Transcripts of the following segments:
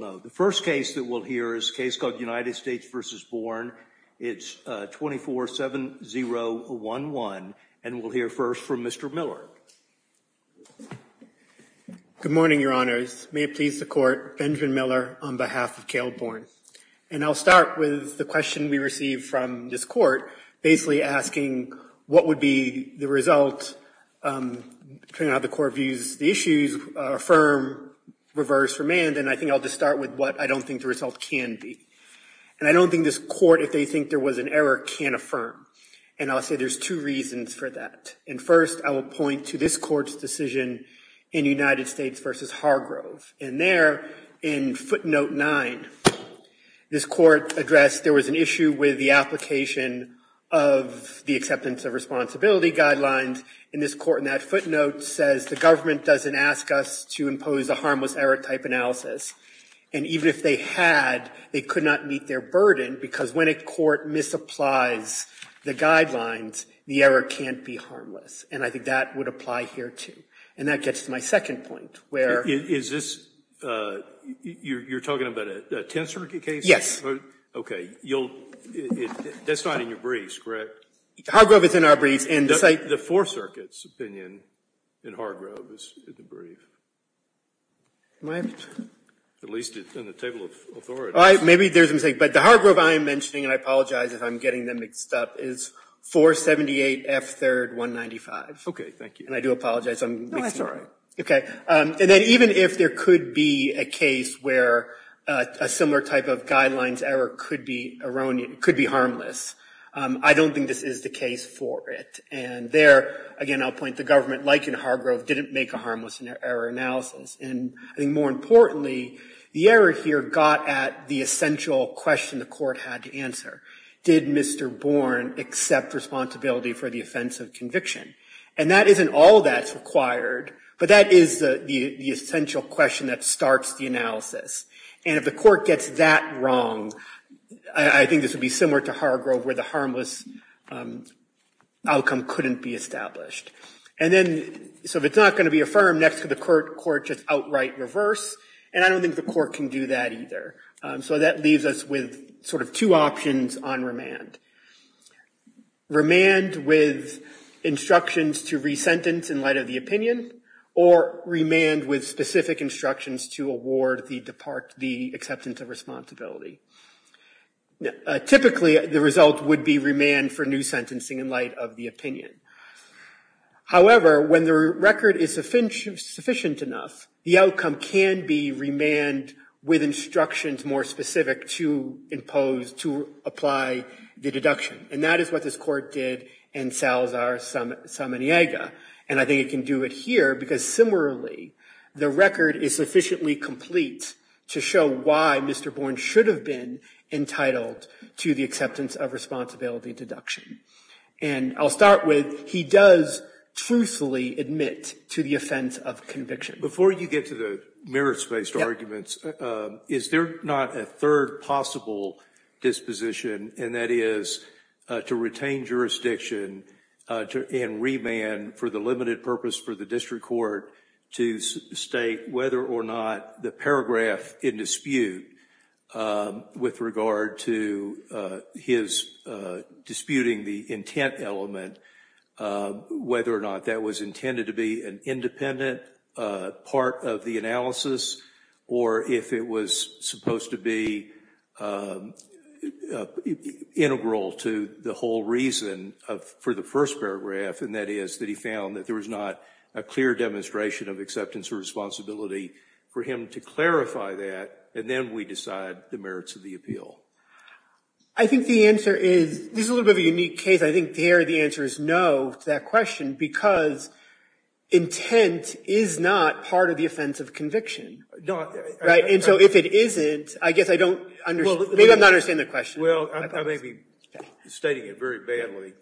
The first case that we'll hear is a case called United States v. Born. It's 24-7011. And we'll hear first from Mr. Miller. Good morning, Your Honors. May it please the Court, Benjamin Miller on behalf of Cale Born. And I'll start with the question we received from this Court, basically asking what would be the result, depending on how the Court views the issues, affirm, reverse, remand. And I think I'll just start with what I don't think the result can be. And I don't think this Court, if they think there was an error, can affirm. And I'll say there's two reasons for that. And first, I will point to this Court's decision in United States v. Hargrove. And there, in footnote 9, this Court addressed there was an issue with the application of the acceptance of responsibility guidelines. And this Court in that footnote says the government doesn't ask us to impose a harmless error type analysis. And even if they had, they could not meet their burden, because when a court misapplies the guidelines, the error can't be harmless. And I think that would apply here, too. And that gets to my second point, where — Is this — you're talking about a Tenth Circuit case? Yes. Okay. You'll — that's not in your briefs, correct? Hargrove is in our briefs. The Fourth Circuit's opinion in Hargrove is in the brief. Am I — At least in the table of authority. Maybe there's a mistake. But the Hargrove I am mentioning, and I apologize if I'm getting them mixed up, is 478 F. 3rd. 195. Okay. Thank you. And I do apologize. I'm mixing them up. No, that's all right. Okay. And then even if there could be a case where a similar type of guidelines error could be harmless, I don't think this is the case for it. And there, again, I'll point to government, like in Hargrove, didn't make a harmless error analysis. And I think more importantly, the error here got at the essential question the court had to answer. Did Mr. Bourne accept responsibility for the offense of conviction? And that isn't all that's required, but that is the essential question that starts the analysis. And if the court gets that wrong, I think this would be similar to Hargrove, where the harmless outcome couldn't be established. And then — so if it's not going to be affirmed, next could the court just outright reverse? And I don't think the court can do that either. So that leaves us with sort of two options on remand. Remand with instructions to resentence in light of the opinion, or remand with the acceptance of responsibility. Typically, the result would be remand for new sentencing in light of the However, when the record is sufficient enough, the outcome can be remand with instructions more specific to impose — to apply the deduction. And that is what this court did in Salazar-Samaniega. And I think it can do it here, because similarly, the record is sufficiently complete to show why Mr. Bourne should have been entitled to the acceptance of responsibility deduction. And I'll start with, he does truthfully admit to the offense of conviction. Before you get to the merits-based arguments, is there not a third possible disposition, and that is to retain jurisdiction and remand for the limited purpose for the district court to state whether or not the paragraph in dispute with regard to his disputing the intent element, whether or not that was intended to be an independent part of the analysis, or if it was supposed to be integral to the whole reason for the first paragraph, and that is that he found that there was not a clear demonstration of acceptance or responsibility for him to clarify that, and then we decide the merits of the appeal? I think the answer is — this is a little bit of a unique case. I think there the answer is no to that question, because intent is not part of the offense of conviction. And so if it isn't, I guess I don't — maybe I'm not understanding the question. Well, I may be stating it very badly.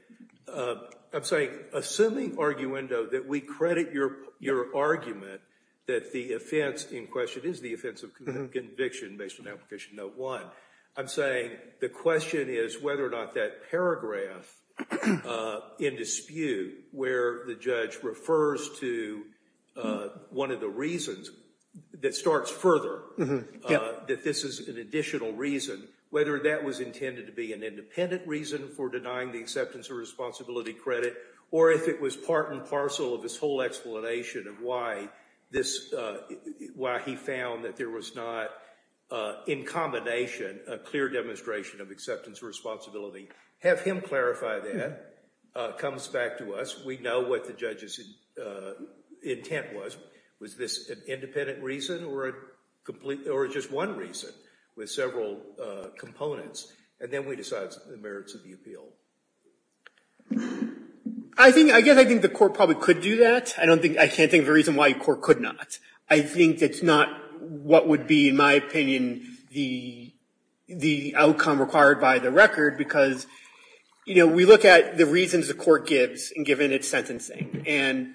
I'm saying, assuming, Arguendo, that we credit your argument that the offense in question is the offense of conviction based on application note one, I'm saying the question is whether or not that paragraph in dispute where the judge refers to one of the reasons that starts further, that this is an additional reason, whether that was intended to be an independent reason for denying the acceptance or responsibility credit, or if it was part and parcel of his whole explanation of why he found that there was not, in combination, a clear demonstration of acceptance or responsibility. Have him clarify that. It comes back to us. We know what the judge's intent was. Was this an independent reason or just one reason with several components? And then we decide the merits of the appeal. I think — I guess I think the court probably could do that. I don't think — I can't think of a reason why a court could not. I think it's not what would be, in my opinion, the outcome required by the record, because, you know, we look at the reasons the court gives and given its sentencing. And,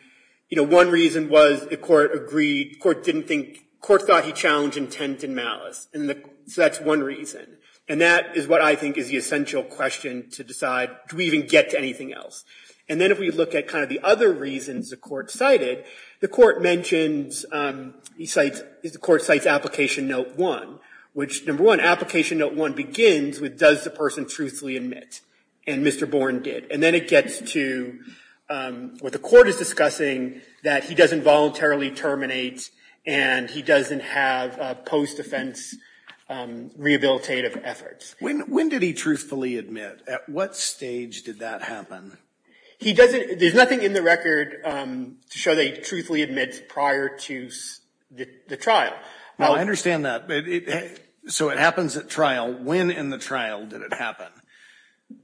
you know, one reason was the court agreed — the court didn't think — the court thought he challenged intent and malice. And so that's one reason. And that is what I think is the essential question to decide, do we even get to anything else? And then if we look at kind of the other reasons the court cited, the court mentions — he cites — the court cites application note one, which, number one, application note one begins with does the person truthfully admit? And Mr. Born did. And then it gets to what the court is discussing, that he doesn't voluntarily terminate and he doesn't have post-defense rehabilitative efforts. When did he truthfully admit? At what stage did that happen? He doesn't — there's nothing in the record to show that he truthfully admits prior to the trial. Well, I understand that. So it happens at trial. When in the trial did it happen? I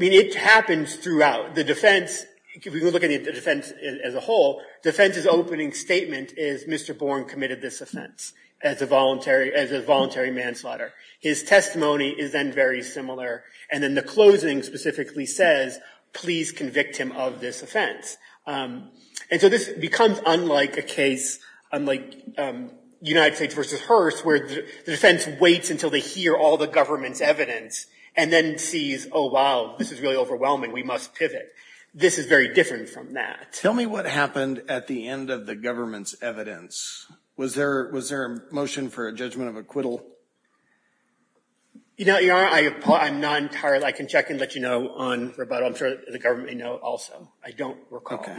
mean, it happens throughout. The defense — if you look at the defense as a whole, defense's opening statement is Mr. Born committed this offense as a voluntary — as a voluntary manslaughter. His testimony is then very similar. And then the closing specifically says, please convict him of this offense. And so this becomes unlike a case — unlike United States versus Hearst, where the defense waits until they hear all the government's evidence and then sees, oh, wow, this is really overwhelming. We must pivot. This is very different from that. Tell me what happened at the end of the government's evidence. Was there a motion for a judgment of acquittal? You know, I'm not entirely — I can check and let you know on rebuttal. I'm sure the government may know also. I don't recall. Okay.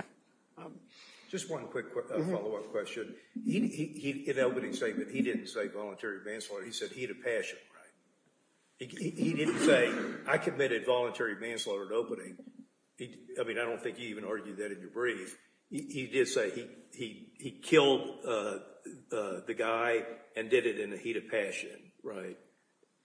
Just one quick follow-up question. In the opening statement, he didn't say voluntary manslaughter. He said heat of passion, right? He didn't say, I committed voluntary manslaughter at opening. I mean, I don't think you even argued that in your brief. He did say he killed the guy and did it in the heat of passion, right?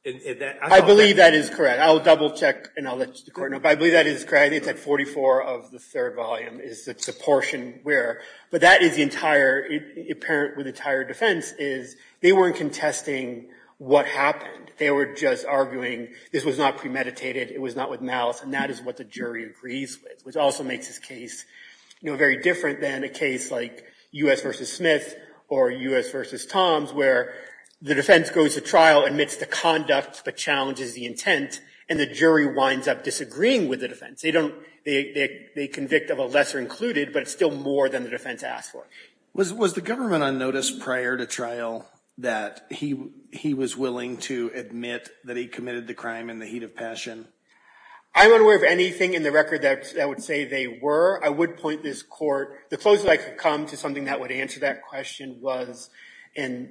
I believe that is correct. I'll double-check and I'll let the court know. But I believe that is correct. I think it's at 44 of the third volume is the portion where — but that is the entire — apparent with the entire defense is they weren't contesting what happened. They were just arguing this was not premeditated. It was not with malice. And that is what the jury agrees with, which also makes this case, you know, very different than a case like U.S. v. Smith or U.S. v. Toms where the defense goes to trial, admits the conduct, but challenges the intent. And the jury winds up disagreeing with the defense. They don't — they convict of a lesser included, but it's still more than the defense asked for. Was the government on notice prior to trial that he was willing to admit that he committed the crime in the heat of passion? I'm unaware of anything in the record that would say they were. I would point this court — the closest I could come to something that would answer that question was in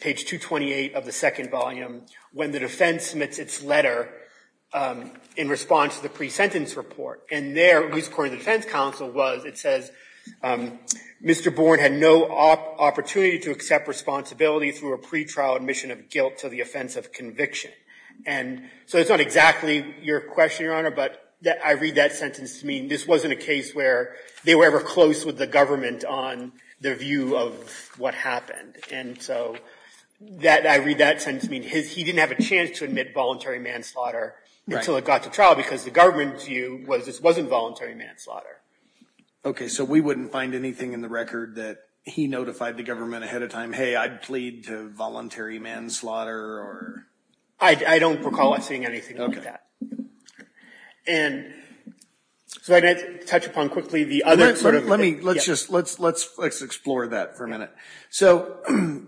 page 228 of the second volume when the defense submits its letter in response to the pre-sentence report. And there, at least according to the defense counsel, it says, Mr. Bourne had no opportunity to accept responsibility through a pretrial admission of guilt to the offense of conviction. And so it's not exactly your question, Your Honor, but I read that sentence to mean this wasn't a case where they were ever close with the government on their view of what happened. And so that — I read that sentence to mean he didn't have a chance to admit voluntary manslaughter until it got to trial because the government view was this wasn't voluntary manslaughter. Okay. So we wouldn't find anything in the record that he notified the government ahead of time, hey, I plead to voluntary manslaughter or — I don't recall seeing anything like that. And so I'd like to touch upon quickly the other sort of — Let me — let's just — let's explore that for a minute. So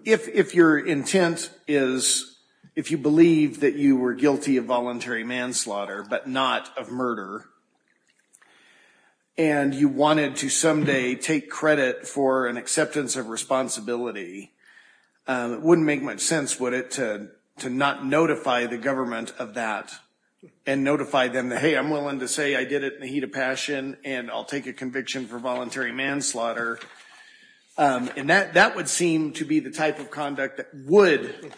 if your intent is — if you believe that you were guilty of voluntary manslaughter but not of murder, and you wanted to someday take credit for an acceptance of responsibility, it wouldn't make much sense, would it, to not notify the government of that and notify them that, hey, I'm willing to say I did it in the heat of passion and I'll take a conviction for voluntary manslaughter. And that would seem to be the type of conduct that would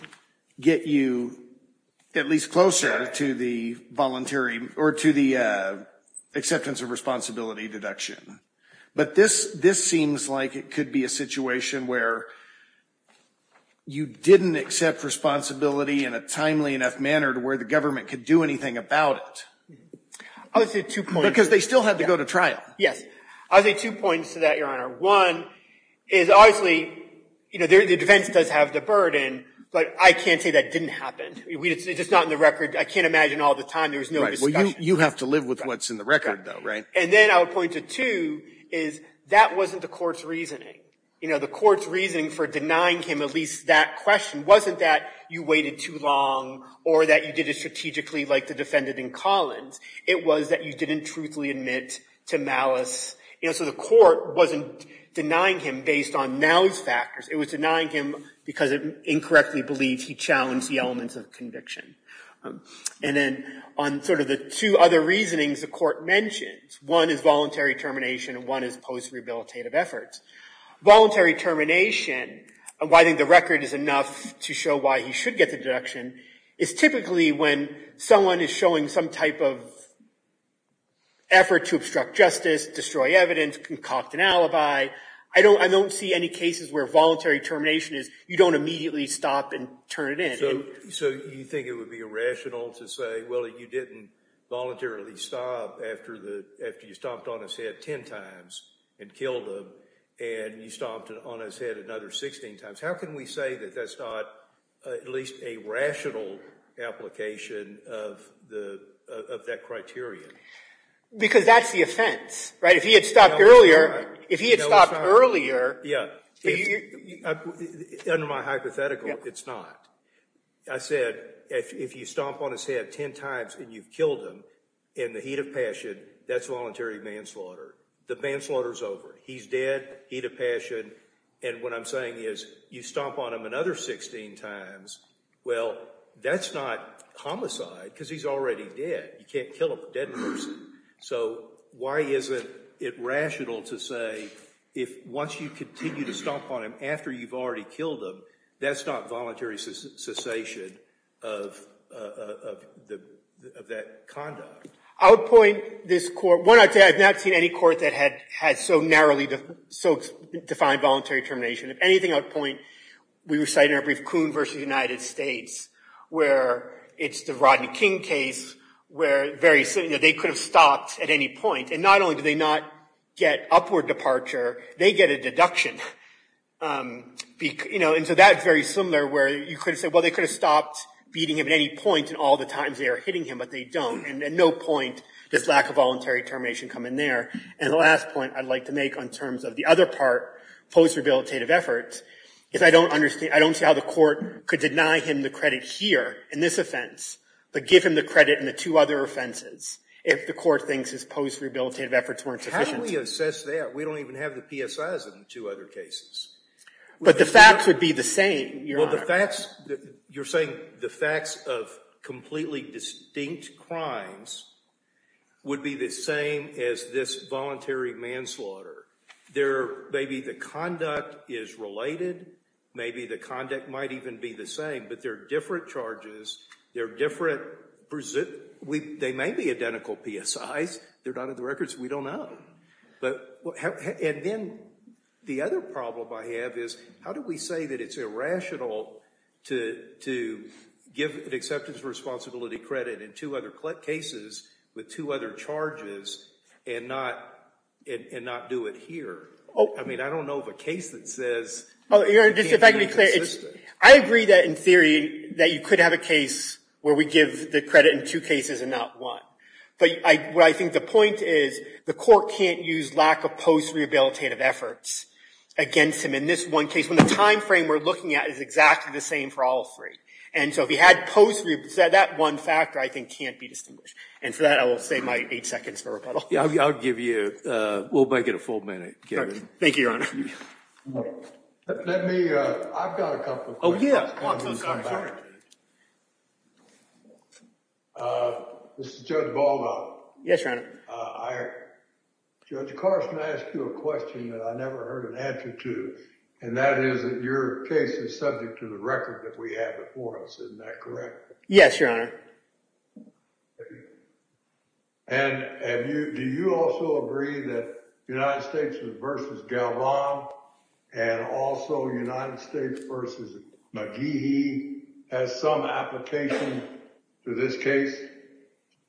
get you at least closer to the voluntary — or to the acceptance of responsibility deduction. But this seems like it could be a situation where you didn't accept responsibility in a timely enough manner to where the government could do anything about it. I would say two points — Because they still had to go to trial. Yes. I would say two points to that, Your Honor. One is, obviously, the defense does have the burden, but I can't say that didn't happen. It's just not in the record. I can't imagine all the time there was no discussion. Well, you have to live with what's in the record, though, right? And then I would point to two is that wasn't the court's reasoning. The court's reasoning for denying him at least that question wasn't that you waited too long or that you did it strategically like the defendant in Collins. It was that you didn't truthfully admit to malice. And so the court wasn't denying him based on now's factors. It was denying him because it incorrectly believed he challenged the elements of conviction. And then on sort of the two other reasonings the court mentioned, one is voluntary termination and one is post-rehabilitative efforts. Voluntary termination, why I think the record is enough to show why he should get the deduction, is typically when someone is showing some type of effort to obstruct justice, destroy evidence, concoct an alibi. I don't see any cases where voluntary termination is you don't immediately stop and turn it in. So you think it would be irrational to say, well, you didn't voluntarily stop after you stomped on his head 10 times and killed him, and you stomped on his head another 16 times. How can we say that that's not at least a rational application of that criterion? Because that's the offense, right? If he had stopped earlier, if he had stopped earlier... Under my hypothetical, it's not. I said if you stomp on his head 10 times and you've killed him in the heat of passion, that's voluntary manslaughter. The manslaughter's over. He's dead, heat of passion. And what I'm saying is you stomp on him another 16 times, well, that's not homicide because he's already dead. You can't kill a dead person. So why isn't it rational to say if once you continue to stomp on him after you've already killed him, that's not voluntary cessation of that conduct? I would point this court... I've not seen any court that had so narrowly defined voluntary termination. If anything, I would point... We were citing a brief Coon v. United States, where it's the Rodney King case, where they could have stopped at any point. And not only do they not get upward departure, they get a deduction. And so that's very similar, where you could have said, well, they could have stopped beating him at any point in all the times they are hitting him, but they don't. And at no point does lack of voluntary termination come in there. And the last point I'd like to make in terms of the other part, post-rehabilitative efforts, is I don't see how the court could deny him the credit here in this offense, but give him the credit in the two other offenses if the court thinks his post-rehabilitative efforts weren't sufficient. How do we assess that? We don't even have the PSIs in the two other cases. But the facts would be the same, Your Honor. Well, the facts... You're saying the facts of completely distinct crimes would be the same as this voluntary manslaughter. Maybe the conduct is related. Maybe the conduct might even be the same. But there are different charges. There are different... They may be identical PSIs. They're not in the records. We don't know. And then the other problem I have is how do we say that it's irrational to give an acceptance responsibility credit in two other cases with two other charges and not do it here? I mean, I don't know of a case that says... Your Honor, just to be clear, I agree that in theory that you could have a case where we give the credit in two cases and not one. But what I think the point is the court can't use lack of post-rehabilitative efforts against him in this one case when the time frame we're looking at is exactly the same for all three. And so if he had post... That one factor, I think, can't be distinguished. And for that, I will save my eight seconds for rebuttal. Yeah, I'll give you... We'll make it a full minute, Kevin. Thank you, Your Honor. Let me... I've got a couple questions. Oh, yeah. Come on. This is Judge Baldo. Yes, Your Honor. Judge Carson asked you a question that I never heard an answer to, and that is that your case is subject to the record that we have before us. Isn't that correct? Yes, Your Honor. And do you also agree that United States v. Galvan and also United States v. McGee has some application to this case?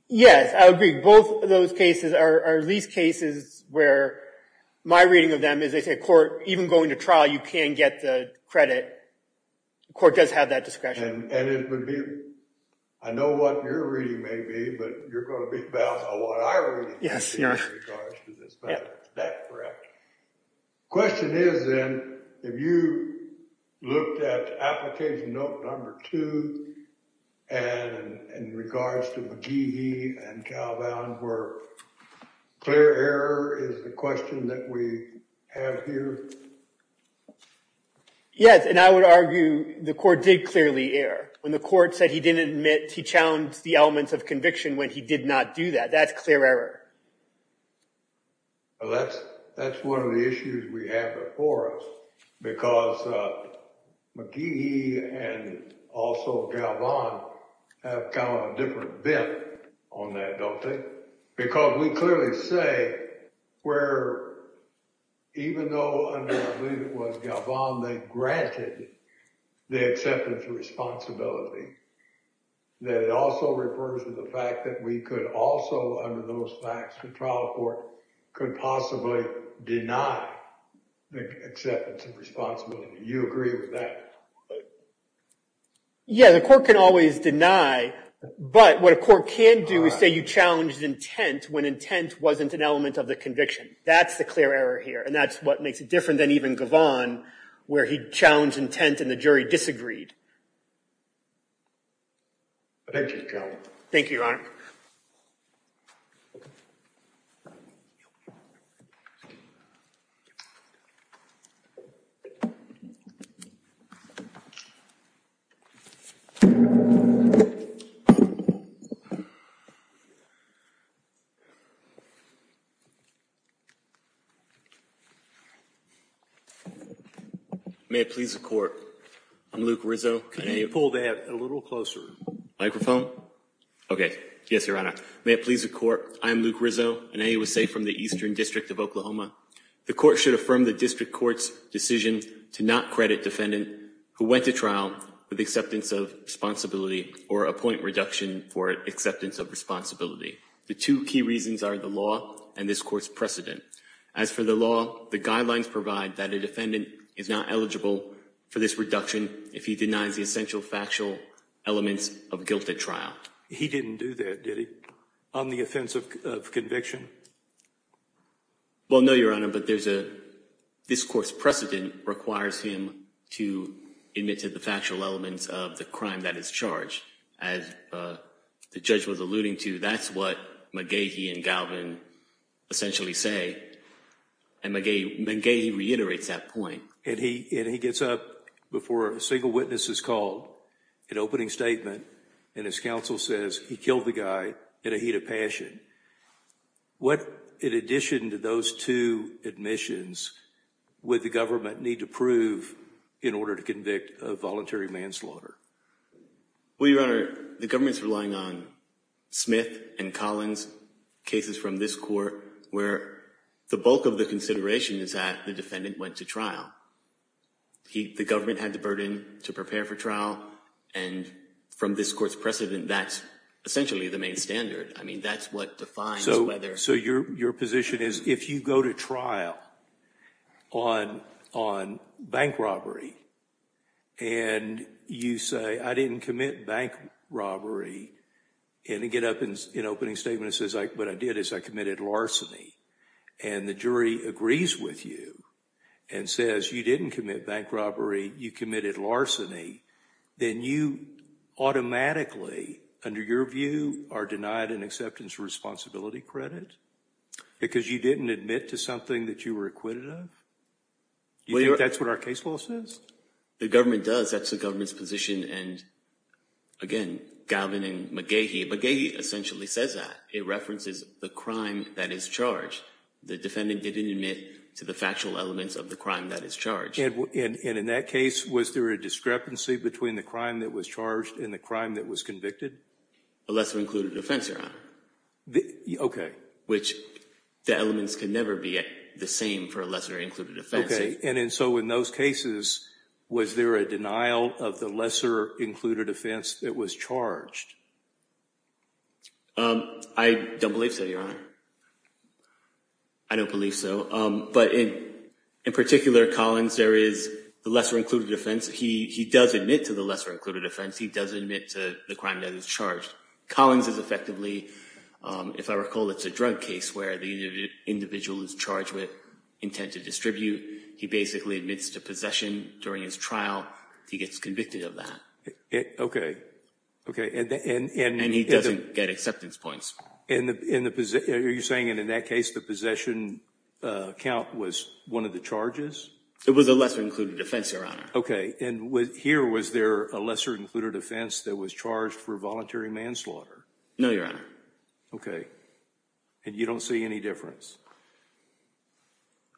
Yes, I agree. Both of those cases are at least cases where my reading of them is they say court... Even going to trial, you can get the credit. The court does have that discretion. And it would be... I know what your reading may be, but you're going to be balanced on what I read. Yes, Your Honor. In regards to this matter. Yep. Is that correct? Question is then, if you looked at application note number two and in regards to McGee v. Galvan, where clear error is the question that we have here? Yes, and I would argue the court did clearly err. When the court said he didn't admit, he challenged the elements of conviction when he did not do that. That's clear error. Well, that's one of the issues we have before us because McGee and also Galvan have kind of a different bent on that, don't they? Because we clearly say where, even though under, I believe it was Galvan, they granted the acceptance of responsibility, that it also refers to the fact that we could also under those facts, the trial court could possibly deny the acceptance of responsibility. Do you agree with that? Yeah, the court can always deny. But what a court can do is say you challenged intent when intent wasn't an element of the conviction. That's the clear error here. And that's what makes it different than even Galvan, where he challenged intent and the jury disagreed. Thank you, Your Honor. Thank you, Your Honor. May it please the court, I'm Luke Rizzo. Can you pull that a little closer? Okay. Yes, Your Honor. May it please the court, I'm Luke Rizzo, an AUSA from the Eastern District of Oklahoma. The court should affirm the district court's decision to not credit defendant who went to trial with acceptance of responsibility or a point reduction for acceptance of responsibility. The two key reasons are the law and this court's precedent. As for the law, the guidelines provide that a defendant is not eligible for this reduction if he denies the essential factual elements of guilt at trial. He didn't do that, did he? On the offense of conviction? Well, no, Your Honor, but this court's precedent requires him to admit to the factual elements of the crime that is charged. As the judge was alluding to, that's what McGehee and Galvan essentially say. And McGehee reiterates that point. And he gets up before a single witness is called, an opening statement, and his counsel says he killed the guy in a heat of passion. What, in addition to those two admissions, would the government need to prove in order to convict a voluntary manslaughter? Well, Your Honor, the government's relying on Smith and Collins' cases from this court where the bulk of the consideration is that the defendant went to trial. The government had the burden to prepare for trial, and from this court's precedent, that's essentially the main standard. I mean, that's what defines whether— So your position is, if you go to trial on bank robbery, and you say, I didn't commit bank robbery, and you get up in an opening statement that says, what I did is I committed larceny, and the jury agrees with you and says, you didn't commit bank robbery, you committed larceny, then you automatically, under your view, are denied an acceptance of responsibility credit? Because you didn't admit to something that you were acquitted of? Do you think that's what our case law says? The government does. That's the government's position, and again, Galvan and McGehee— McGehee essentially says that. It references the crime that is charged. The defendant didn't admit to the factual elements of the crime that is charged. And in that case, was there a discrepancy between the crime that was charged and the crime that was convicted? A lesser-included offense, Your Honor. Okay. Which the elements can never be the same for a lesser-included offense. Okay, and so in those cases, was there a denial of the lesser-included offense that was charged? I don't believe so, Your Honor. I don't believe so. But in particular, Collins, there is the lesser-included offense. He does admit to the lesser-included offense. He does admit to the crime that is charged. Collins is effectively, if I recall, it's a drug case where the individual is charged with intent to distribute. He basically admits to possession during his trial. He gets convicted of that. Okay, okay. And he doesn't get acceptance points. Are you saying that in that case, the possession count was one of the charges? It was a lesser-included offense, Your Honor. Okay. And here, was there a lesser-included offense that was charged for voluntary manslaughter? No, Your Honor. Okay. And you don't see any difference?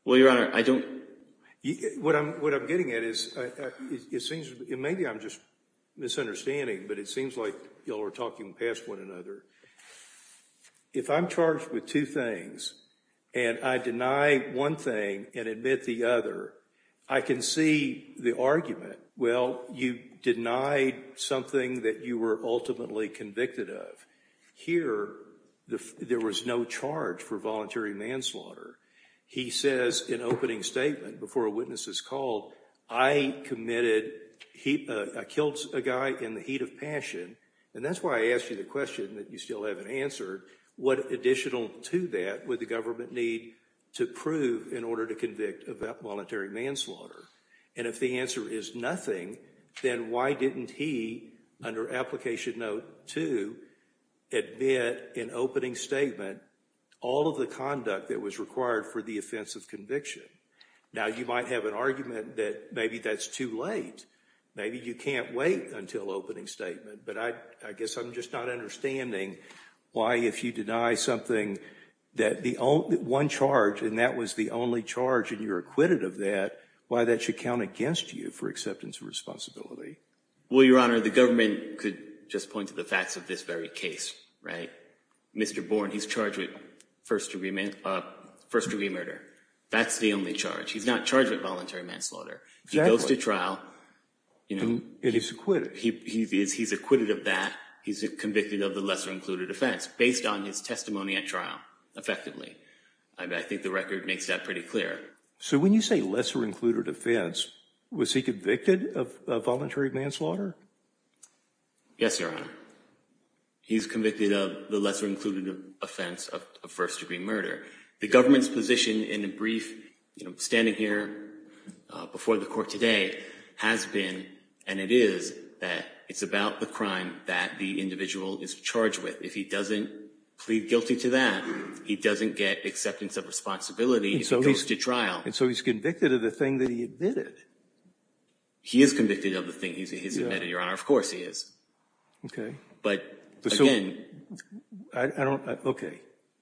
Well, Your Honor, I don't. What I'm getting at is it seems, and maybe I'm just misunderstanding, but it seems like you all are talking past one another. If I'm charged with two things and I deny one thing and admit the other, I can see the argument, well, you denied something that you were ultimately convicted of. Here, there was no charge for voluntary manslaughter. He says in opening statement before a witness is called, I committed, I killed a guy in the heat of passion, and that's why I asked you the question that you still haven't answered. What additional to that would the government need to prove in order to convict of that voluntary manslaughter? And if the answer is nothing, then why didn't he, under Application Note 2, admit in opening statement all of the conduct that was required for the offense of conviction? Now, you might have an argument that maybe that's too late. Maybe you can't wait until opening statement, but I guess I'm just not understanding why, if you deny something, one charge and that was the only charge and you're acquitted of that, why that should count against you for acceptance of responsibility. Well, Your Honor, the government could just point to the facts of this very case, right? Mr. Bourne, he's charged with first-degree murder. That's the only charge. He's not charged with voluntary manslaughter. He goes to trial. And he's acquitted. He's acquitted of that. He's convicted of the lesser-included offense, based on his testimony at trial, effectively. I think the record makes that pretty clear. So when you say lesser-included offense, was he convicted of voluntary manslaughter? Yes, Your Honor. He's convicted of the lesser-included offense of first-degree murder. The government's position in a brief, you know, standing here before the court today, has been, and it is, that it's about the crime that the individual is charged with. If he doesn't plead guilty to that, he doesn't get acceptance of responsibility. He goes to trial. And so he's convicted of the thing that he admitted. He is convicted of the thing he's admitted, Your Honor. Of course he is. Okay. But, again,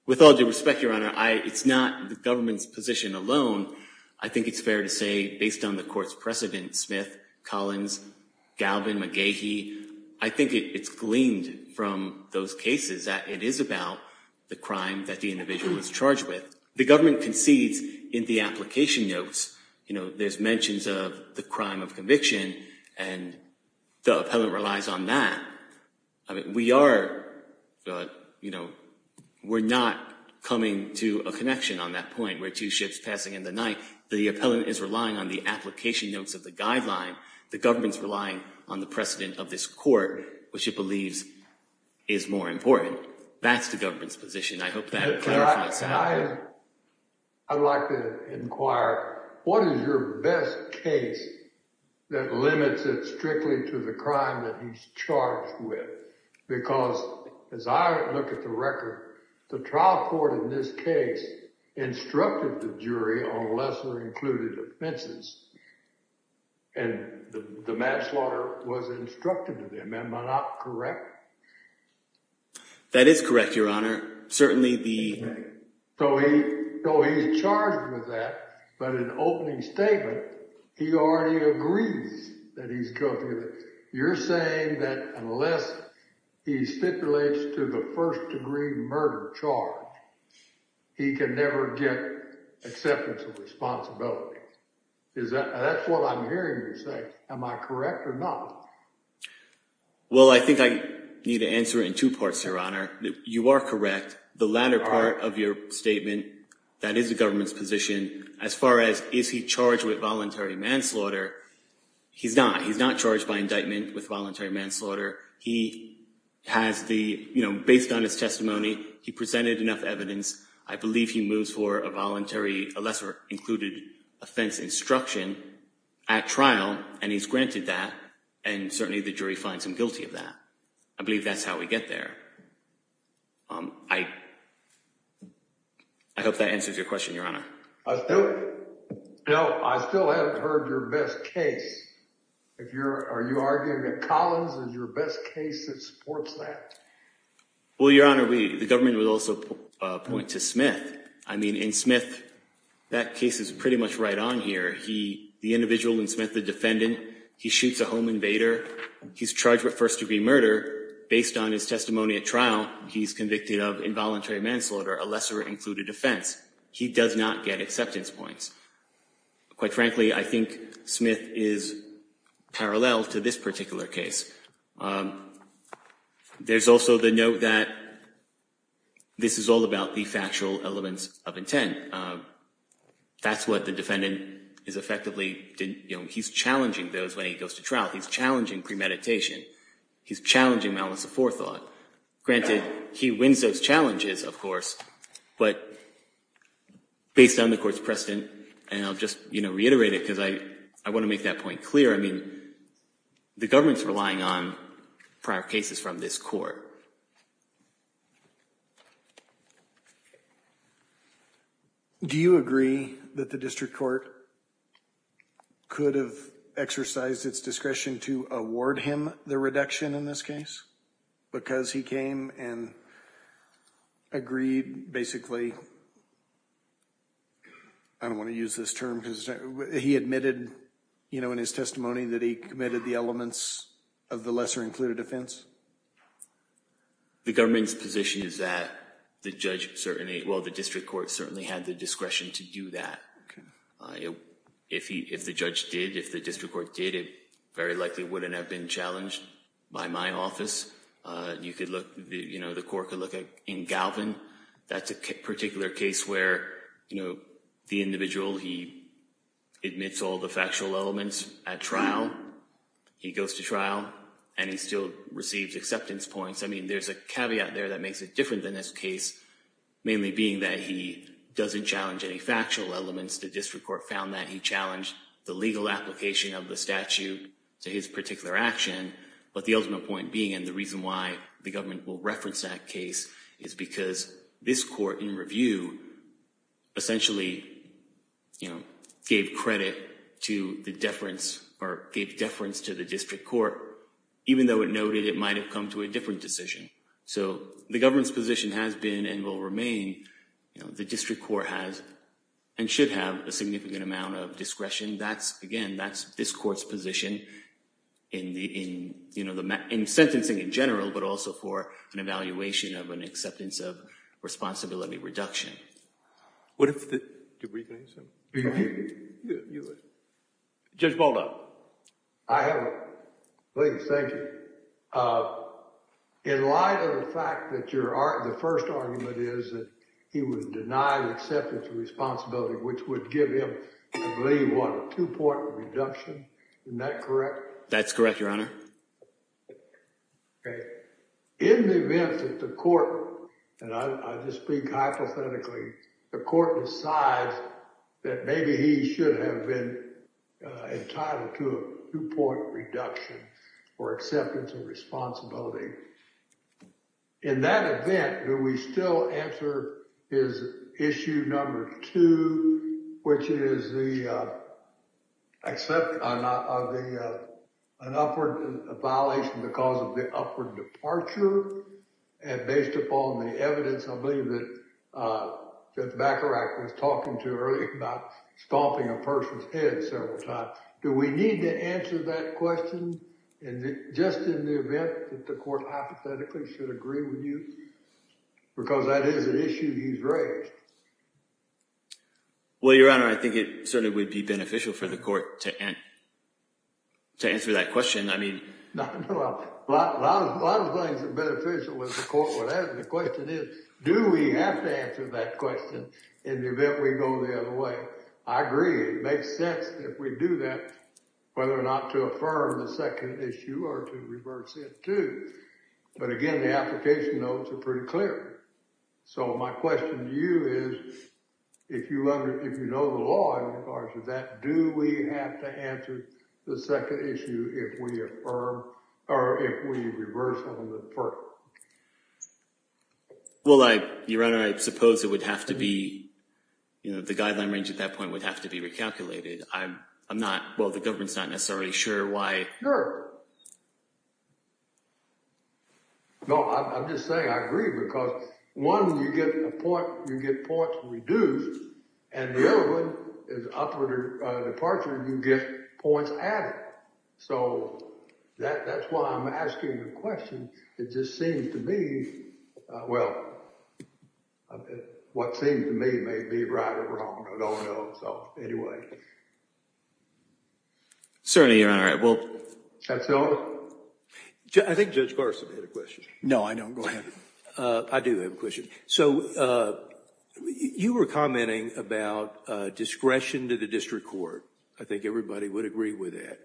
with all due respect, Your Honor, it's not the government's position alone. I think it's fair to say, based on the court's precedent, Smith, Collins, Galvin, McGahee, I think it's gleaned from those cases that it is about the crime that the individual is charged with. The government concedes in the application notes. You know, there's mentions of the crime of conviction, and the appellant relies on that. I mean, we are, you know, we're not coming to a connection on that point where two ships passing in the night. The appellant is relying on the application notes of the guideline. The government's relying on the precedent of this court, which it believes is more important. That's the government's position. I hope that clarifies it. I'd like to inquire, what is your best case that limits it strictly to the crime that he's charged with? Because, as I look at the record, the trial court in this case instructed the jury on lesser included offenses, and the manslaughter was instructed to them. Am I not correct? That is correct, Your Honor. Certainly the… So he's charged with that, but in opening statement, he already agrees that he's guilty of it. You're saying that unless he stipulates to the first degree murder charge, he can never get acceptance of responsibility. That's what I'm hearing you say. Am I correct or not? Well, I think I need to answer it in two parts, Your Honor. You are correct. The latter part of your statement, that is the government's position. As far as is he charged with voluntary manslaughter, he's not. He's not charged by indictment with voluntary manslaughter. He has the, you know, based on his testimony, he presented enough evidence. I believe he moves for a voluntary, a lesser included offense instruction at trial, and he's granted that. And certainly the jury finds him guilty of that. I believe that's how we get there. I hope that answers your question, Your Honor. No, I still haven't heard your best case. Are you arguing that Collins is your best case that supports that? Well, Your Honor, the government would also point to Smith. I mean, in Smith, that case is pretty much right on here. The individual in Smith, the defendant, he shoots a home invader. He's charged with first degree murder based on his testimony at trial. He's convicted of involuntary manslaughter, a lesser included offense. He does not get acceptance points. Quite frankly, I think Smith is parallel to this particular case. There's also the note that this is all about the factual elements of intent. That's what the defendant is effectively, you know, he's challenging those when he goes to trial. He's challenging premeditation. He's challenging malice of forethought. Granted, he wins those challenges, of course, but based on the court's precedent, and I'll just, you know, reiterate it because I want to make that point clear. I mean, the government's relying on prior cases from this court. Do you agree that the district court could have exercised its discretion to award him the reduction in this case? Because he came and agreed basically, I don't want to use this term, because he admitted, you know, in his testimony that he committed the elements of the lesser included offense. The government's position is that the judge certainly, well, the district court certainly had the discretion to do that. If the judge did, if the district court did, it very likely wouldn't have been challenged by my office. You could look, you know, the court could look in Galvin. That's a particular case where, you know, the individual, he admits all the factual elements at trial. He goes to trial, and he still receives acceptance points. I mean, there's a caveat there that makes it different than this case, mainly being that he doesn't challenge any factual elements. The district court found that he challenged the legal application of the statute to his particular action. But the ultimate point being, and the reason why the government will reference that case, is because this court in review essentially, you know, gave credit to the deference, or gave deference to the district court, even though it noted it might have come to a different decision. So the government's position has been and will remain, you know, the district court has and should have a significant amount of discretion. That's, again, that's this court's position in the, you know, in sentencing in general, but also for an evaluation of an acceptance of responsibility reduction. What if the, do we have any questions? Judge Baldock. I have one. Please, thank you. In light of the fact that your, the first argument is that he was denied acceptance of responsibility, which would give him, I believe, what, a two-point reduction? Isn't that correct? That's correct, Your Honor. Okay. In the event that the court, and I just speak hypothetically, the court decides that maybe he should have been entitled to a two-point reduction for acceptance of responsibility. In that event, do we still answer his issue number two, which is the acceptance of the, an upward, a violation because of the upward departure? And based upon the evidence, I believe that, that Bacharach was talking to earlier about stomping a person's head several times. Do we need to answer that question just in the event that the court hypothetically should agree with you? Because that is an issue he's raised. Well, Your Honor, I think it certainly would be beneficial for the court to answer that question. I mean, a lot of things are beneficial with the court. What the question is, do we have to answer that question in the event we go the other way? I agree. It makes sense if we do that, whether or not to affirm the second issue or to reverse it, too. But again, the application notes are pretty clear. So my question to you is, if you know the law in regards to that, do we have to answer the second issue if we affirm, or if we reverse on the first? Well, Your Honor, I suppose it would have to be, you know, the guideline range at that point would have to be recalculated. I'm not, well, the government's not necessarily sure why. Sure. No, I'm just saying I agree because one, you get a point, you get points reduced, and the other one is upward departure, you get points added. So that's why I'm asking the question. It just seems to me, well, what seems to me may be right or wrong. I don't know. So anyway. Certainly, Your Honor. Well, I think Judge Garson had a question. No, I don't. Go ahead. I do have a question. So you were commenting about discretion to the district court. I think everybody would agree with that.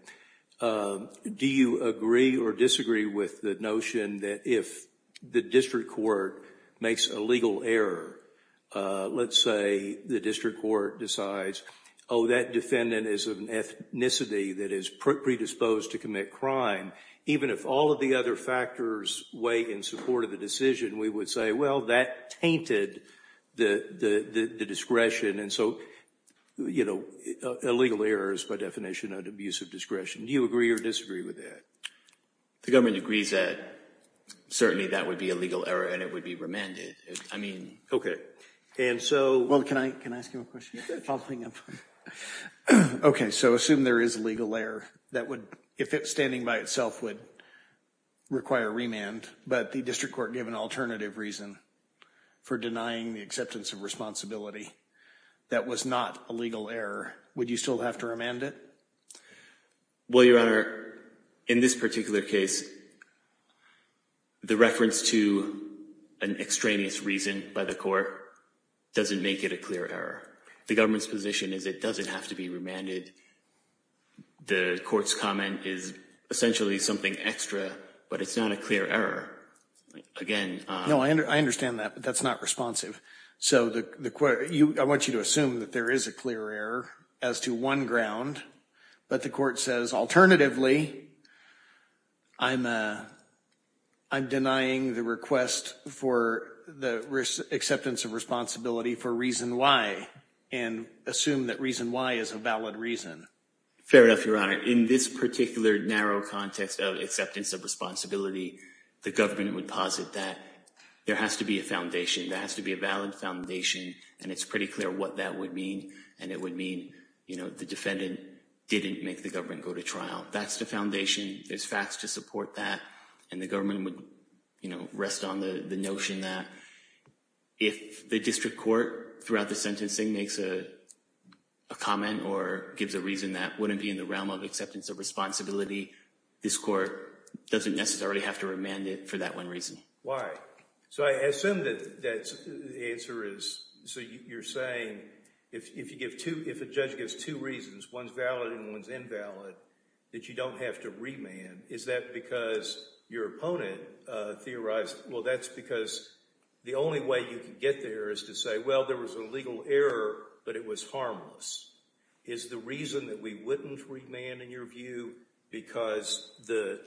Do you agree or disagree with the notion that if the district court makes a legal error, let's say the district court decides, oh, that defendant is of an ethnicity that is predisposed to commit crime, even if all of the other factors weigh in support of the decision, we would say, well, that tainted the discretion. And so, you know, a legal error is by definition an abuse of discretion. Do you agree or disagree with that? The government agrees that certainly that would be a legal error and it would be remanded. I mean. Okay. And so. Well, can I ask you a question? Okay. So assume there is a legal error that would, if it's standing by itself, would require remand, but the district court gave an alternative reason for denying the acceptance of responsibility. That was not a legal error. Would you still have to remand it? Well, Your Honor, in this particular case, the reference to an extraneous reason by the court doesn't make it a clear error. The government's position is it doesn't have to be remanded. The court's comment is essentially something extra, but it's not a clear error. No, I understand that, but that's not responsive. So I want you to assume that there is a clear error as to one ground. But the court says, alternatively, I'm denying the request for the acceptance of responsibility for reason Y and assume that reason Y is a valid reason. Fair enough, Your Honor. In this particular narrow context of acceptance of responsibility, the government would posit that there has to be a foundation. There has to be a valid foundation, and it's pretty clear what that would mean, and it would mean the defendant didn't make the government go to trial. That's the foundation. There's facts to support that, and the government would rest on the notion that if the district court throughout the sentencing makes a comment or gives a reason that wouldn't be in the realm of acceptance of responsibility, this court doesn't necessarily have to remand it for that one reason. Why? So I assume that the answer is, so you're saying if a judge gives two reasons, one's valid and one's invalid, that you don't have to remand. Is that because your opponent theorized, well, that's because the only way you can get there is to say, well, there was a legal error, but it was harmless. Is the reason that we wouldn't remand, in your view, because the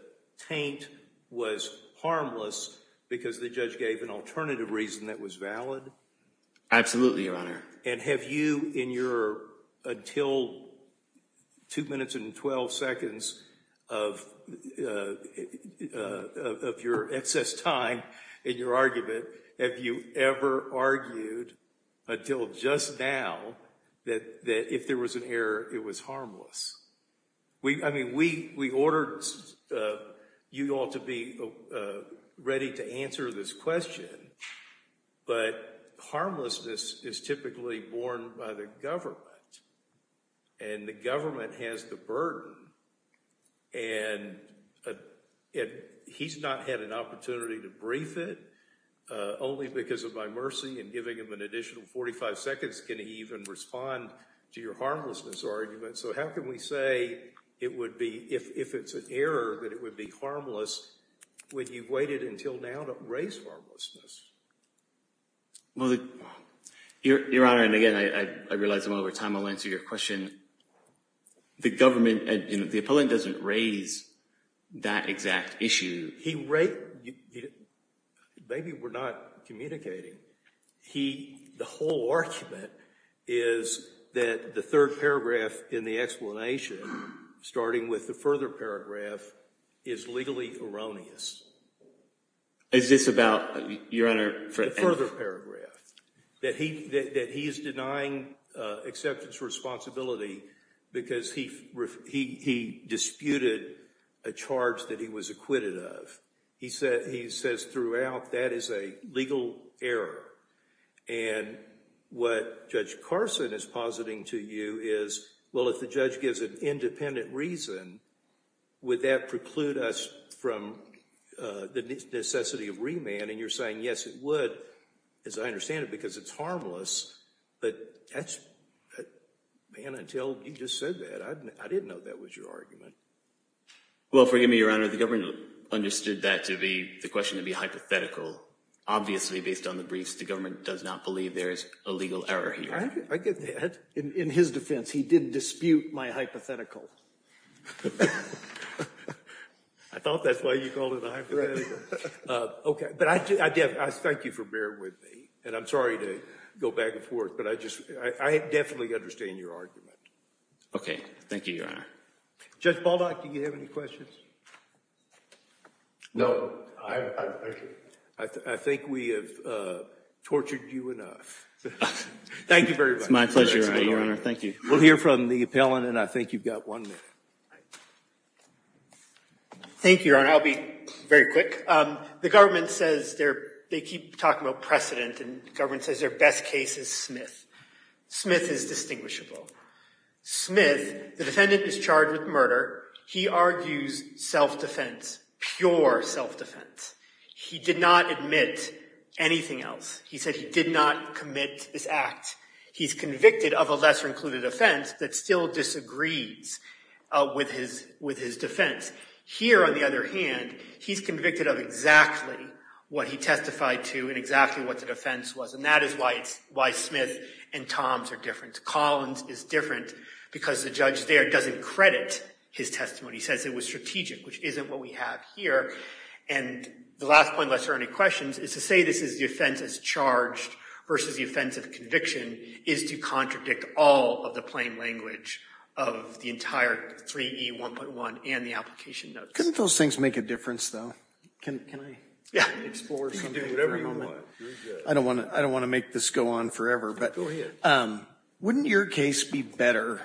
taint was harmless because the judge gave an alternative reason that was valid? Absolutely, Your Honor. And have you in your until 2 minutes and 12 seconds of your excess time in your argument, have you ever argued until just now that if there was an error, it was harmless? I mean, we ordered you all to be ready to answer this question, but harmlessness is typically borne by the government. And the government has the burden, and he's not had an opportunity to brief it. Only because of my mercy and giving him an additional 45 seconds can he even respond to your harmlessness argument. So how can we say it would be, if it's an error, that it would be harmless when you've waited until now to raise harmlessness? Well, Your Honor, and again, I realize I'm over time, I'll answer your question. The government, the opponent doesn't raise that exact issue. Maybe we're not communicating. The whole argument is that the third paragraph in the explanation, starting with the further paragraph, is legally erroneous. Is this about, Your Honor, for F? That he is denying acceptance for responsibility because he disputed a charge that he was acquitted of. He says throughout, that is a legal error. And what Judge Carson is positing to you is, well, if the judge gives an independent reason, would that preclude us from the necessity of remand? And you're saying yes, it would, as I understand it, because it's harmless. But that's, man, until you just said that, I didn't know that was your argument. Well, forgive me, Your Honor, the government understood that to be, the question to be hypothetical. Obviously, based on the briefs, the government does not believe there is a legal error here. I get that. In his defense, he didn't dispute my hypothetical. I thought that's why you called it a hypothetical. Okay, but I thank you for bearing with me. And I'm sorry to go back and forth, but I just, I definitely understand your argument. Okay, thank you, Your Honor. Judge Baldock, do you have any questions? No. I think we have tortured you enough. Thank you very much. It's my pleasure, Your Honor. Thank you. We'll hear from the appellant, and I think you've got one minute. Thank you, Your Honor. I'll be very quick. The government says they keep talking about precedent, and the government says their best case is Smith. Smith is distinguishable. Smith, the defendant is charged with murder. He argues self-defense, pure self-defense. He did not admit anything else. He said he did not commit this act. He's convicted of a lesser-included offense that still disagrees with his defense. Here, on the other hand, he's convicted of exactly what he testified to and exactly what the defense was, and that is why Smith and Toms are different. Collins is different because the judge there doesn't credit his testimony. He says it was strategic, which isn't what we have here. And the last point, unless there are any questions, is to say this is the offense that's charged versus the offense of conviction is to contradict all of the plain language of the entire 3E1.1 and the application notes. Couldn't those things make a difference, though? Can I explore something for a moment? I don't want to make this go on forever. Go ahead. Wouldn't your case be better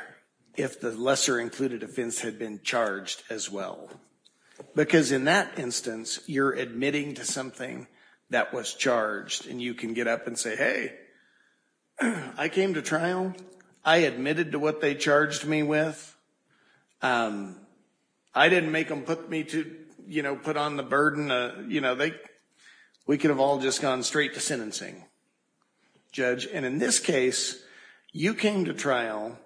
if the lesser-included offense had been charged as well? Because in that instance, you're admitting to something that was charged, and you can get up and say, hey, I came to trial. I admitted to what they charged me with. I didn't make them put me to, you know, put on the burden. You know, we could have all just gone straight to sentencing. Judge, and in this case, you came to trial,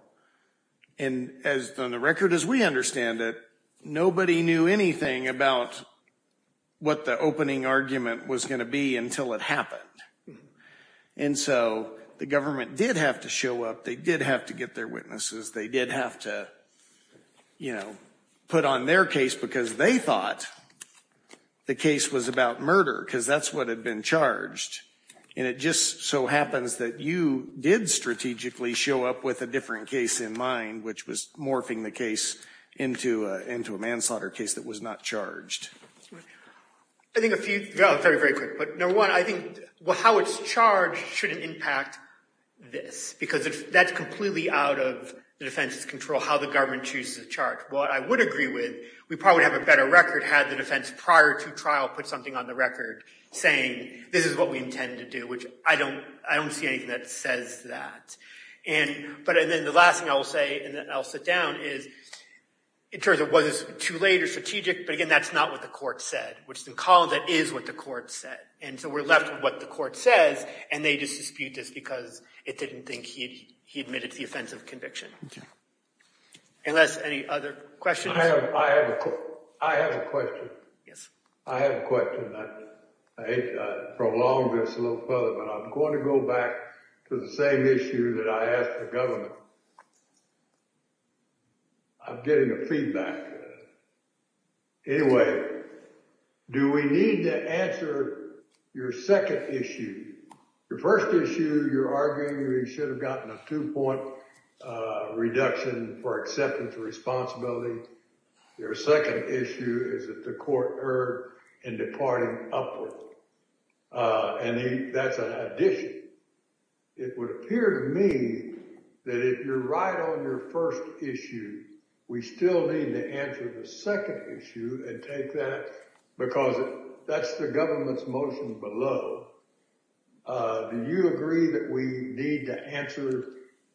and on the record as we understand it, nobody knew anything about what the opening argument was going to be until it happened. And so the government did have to show up. They did have to get their witnesses. They did have to, you know, put on their case because they thought the case was about murder because that's what had been charged. And it just so happens that you did strategically show up with a different case in mind, which was morphing the case into a manslaughter case that was not charged. I think a few, very, very quick. Number one, I think how it's charged shouldn't impact this because that's completely out of the defense's control how the government chooses to charge. What I would agree with, we probably would have a better record if the government had the defense prior to trial put something on the record saying, this is what we intend to do, which I don't see anything that says that. But then the last thing I will say, and then I'll sit down, is in terms of was this too late or strategic, but again, that's not what the court said, which in Collins it is what the court said. And so we're left with what the court says, and they just dispute this because it didn't think he admitted to the offense of conviction. Unless any other questions? I have a question. Yes. I have a question. I hate to prolong this a little further, but I'm going to go back to the same issue that I asked the government. I'm getting a feedback. Anyway, do we need to answer your second issue? Your first issue, you're arguing we should have gotten a two-point reduction for acceptance of responsibility. Your second issue is that the court erred in departing upward, and that's an addition. It would appear to me that if you're right on your first issue, we still need to answer the second issue and take that because that's the government's motion below. Do you agree that we need to answer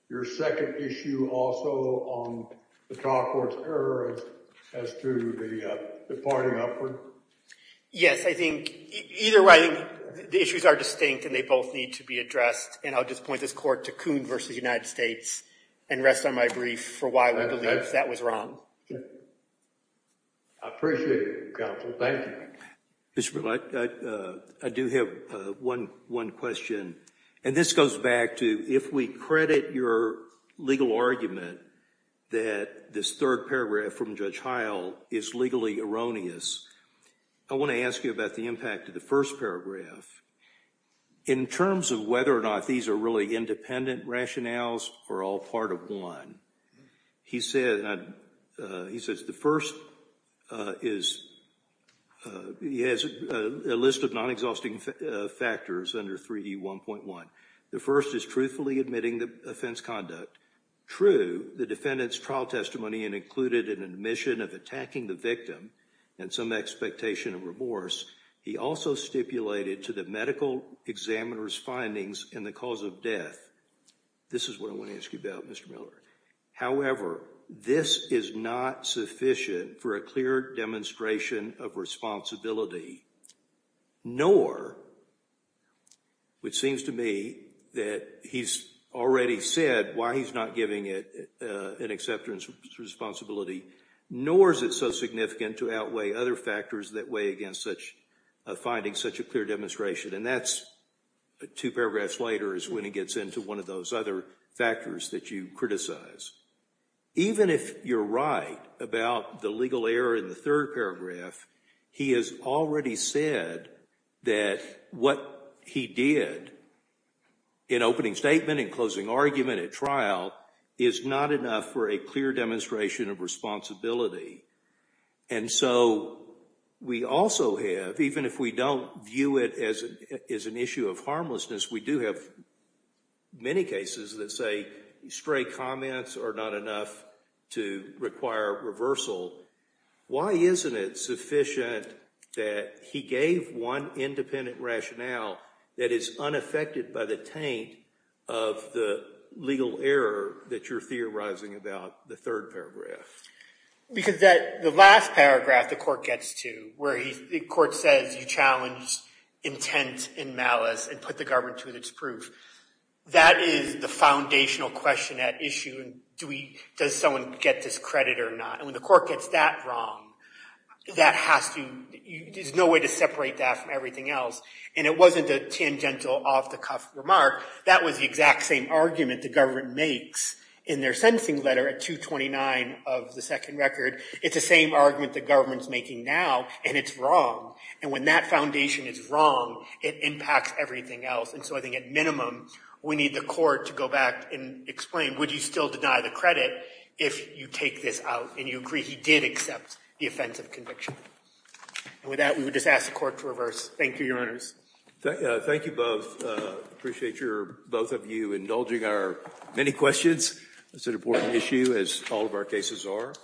your second issue also on the trial court's error as to the departing upward? Yes, I think either way, the issues are distinct and they both need to be addressed, and I'll just point this court to Coon v. United States and rest on my brief for why we believe that was wrong. I appreciate it, counsel. Thank you. Mr. Miller, I do have one question, and this goes back to if we credit your legal argument that this third paragraph from Judge Heil is legally erroneous, I want to ask you about the impact of the first paragraph. In terms of whether or not these are really independent rationales or all part of one, he says the first is he has a list of non-exhausting factors under 3D1.1. The first is truthfully admitting the offense conduct. True, the defendant's trial testimony included an admission of attacking the victim and some expectation of remorse. He also stipulated to the medical examiner's findings in the cause of death. This is what I want to ask you about, Mr. Miller. However, this is not sufficient for a clear demonstration of responsibility, nor, which seems to me that he's already said why he's not giving it an acceptance responsibility, nor is it so significant to outweigh other factors that weigh against such a finding, such a clear demonstration. And that's two paragraphs later is when he gets into one of those other factors that you criticize. Even if you're right about the legal error in the third paragraph, he has already said that what he did in opening statement and closing argument at trial is not enough for a clear demonstration of responsibility. And so we also have, even if we don't view it as an issue of harmlessness, we do have many cases that say stray comments are not enough to require reversal. Why isn't it sufficient that he gave one independent rationale that is unaffected by the taint of the legal error that you're theorizing about the third paragraph? Because the last paragraph the court gets to, where the court says you challenged intent and malice and put the government to its proof, that is the foundational question at issue. Does someone get this credit or not? And when the court gets that wrong, there's no way to separate that from everything else. And it wasn't a tangential, off-the-cuff remark. That was the exact same argument the government makes in their sentencing letter at 229 of the second record. It's the same argument the government's making now, and it's wrong. And when that foundation is wrong, it impacts everything else. And so I think at minimum, we need the court to go back and explain, would you still deny the credit if you take this out and you agree he did accept the offense of conviction? And with that, we would just ask the court to reverse. Thank you, Your Honors. Thank you both. I appreciate both of you indulging our many questions. It's an important issue, as all of our cases are.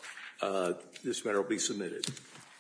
This matter will be submitted.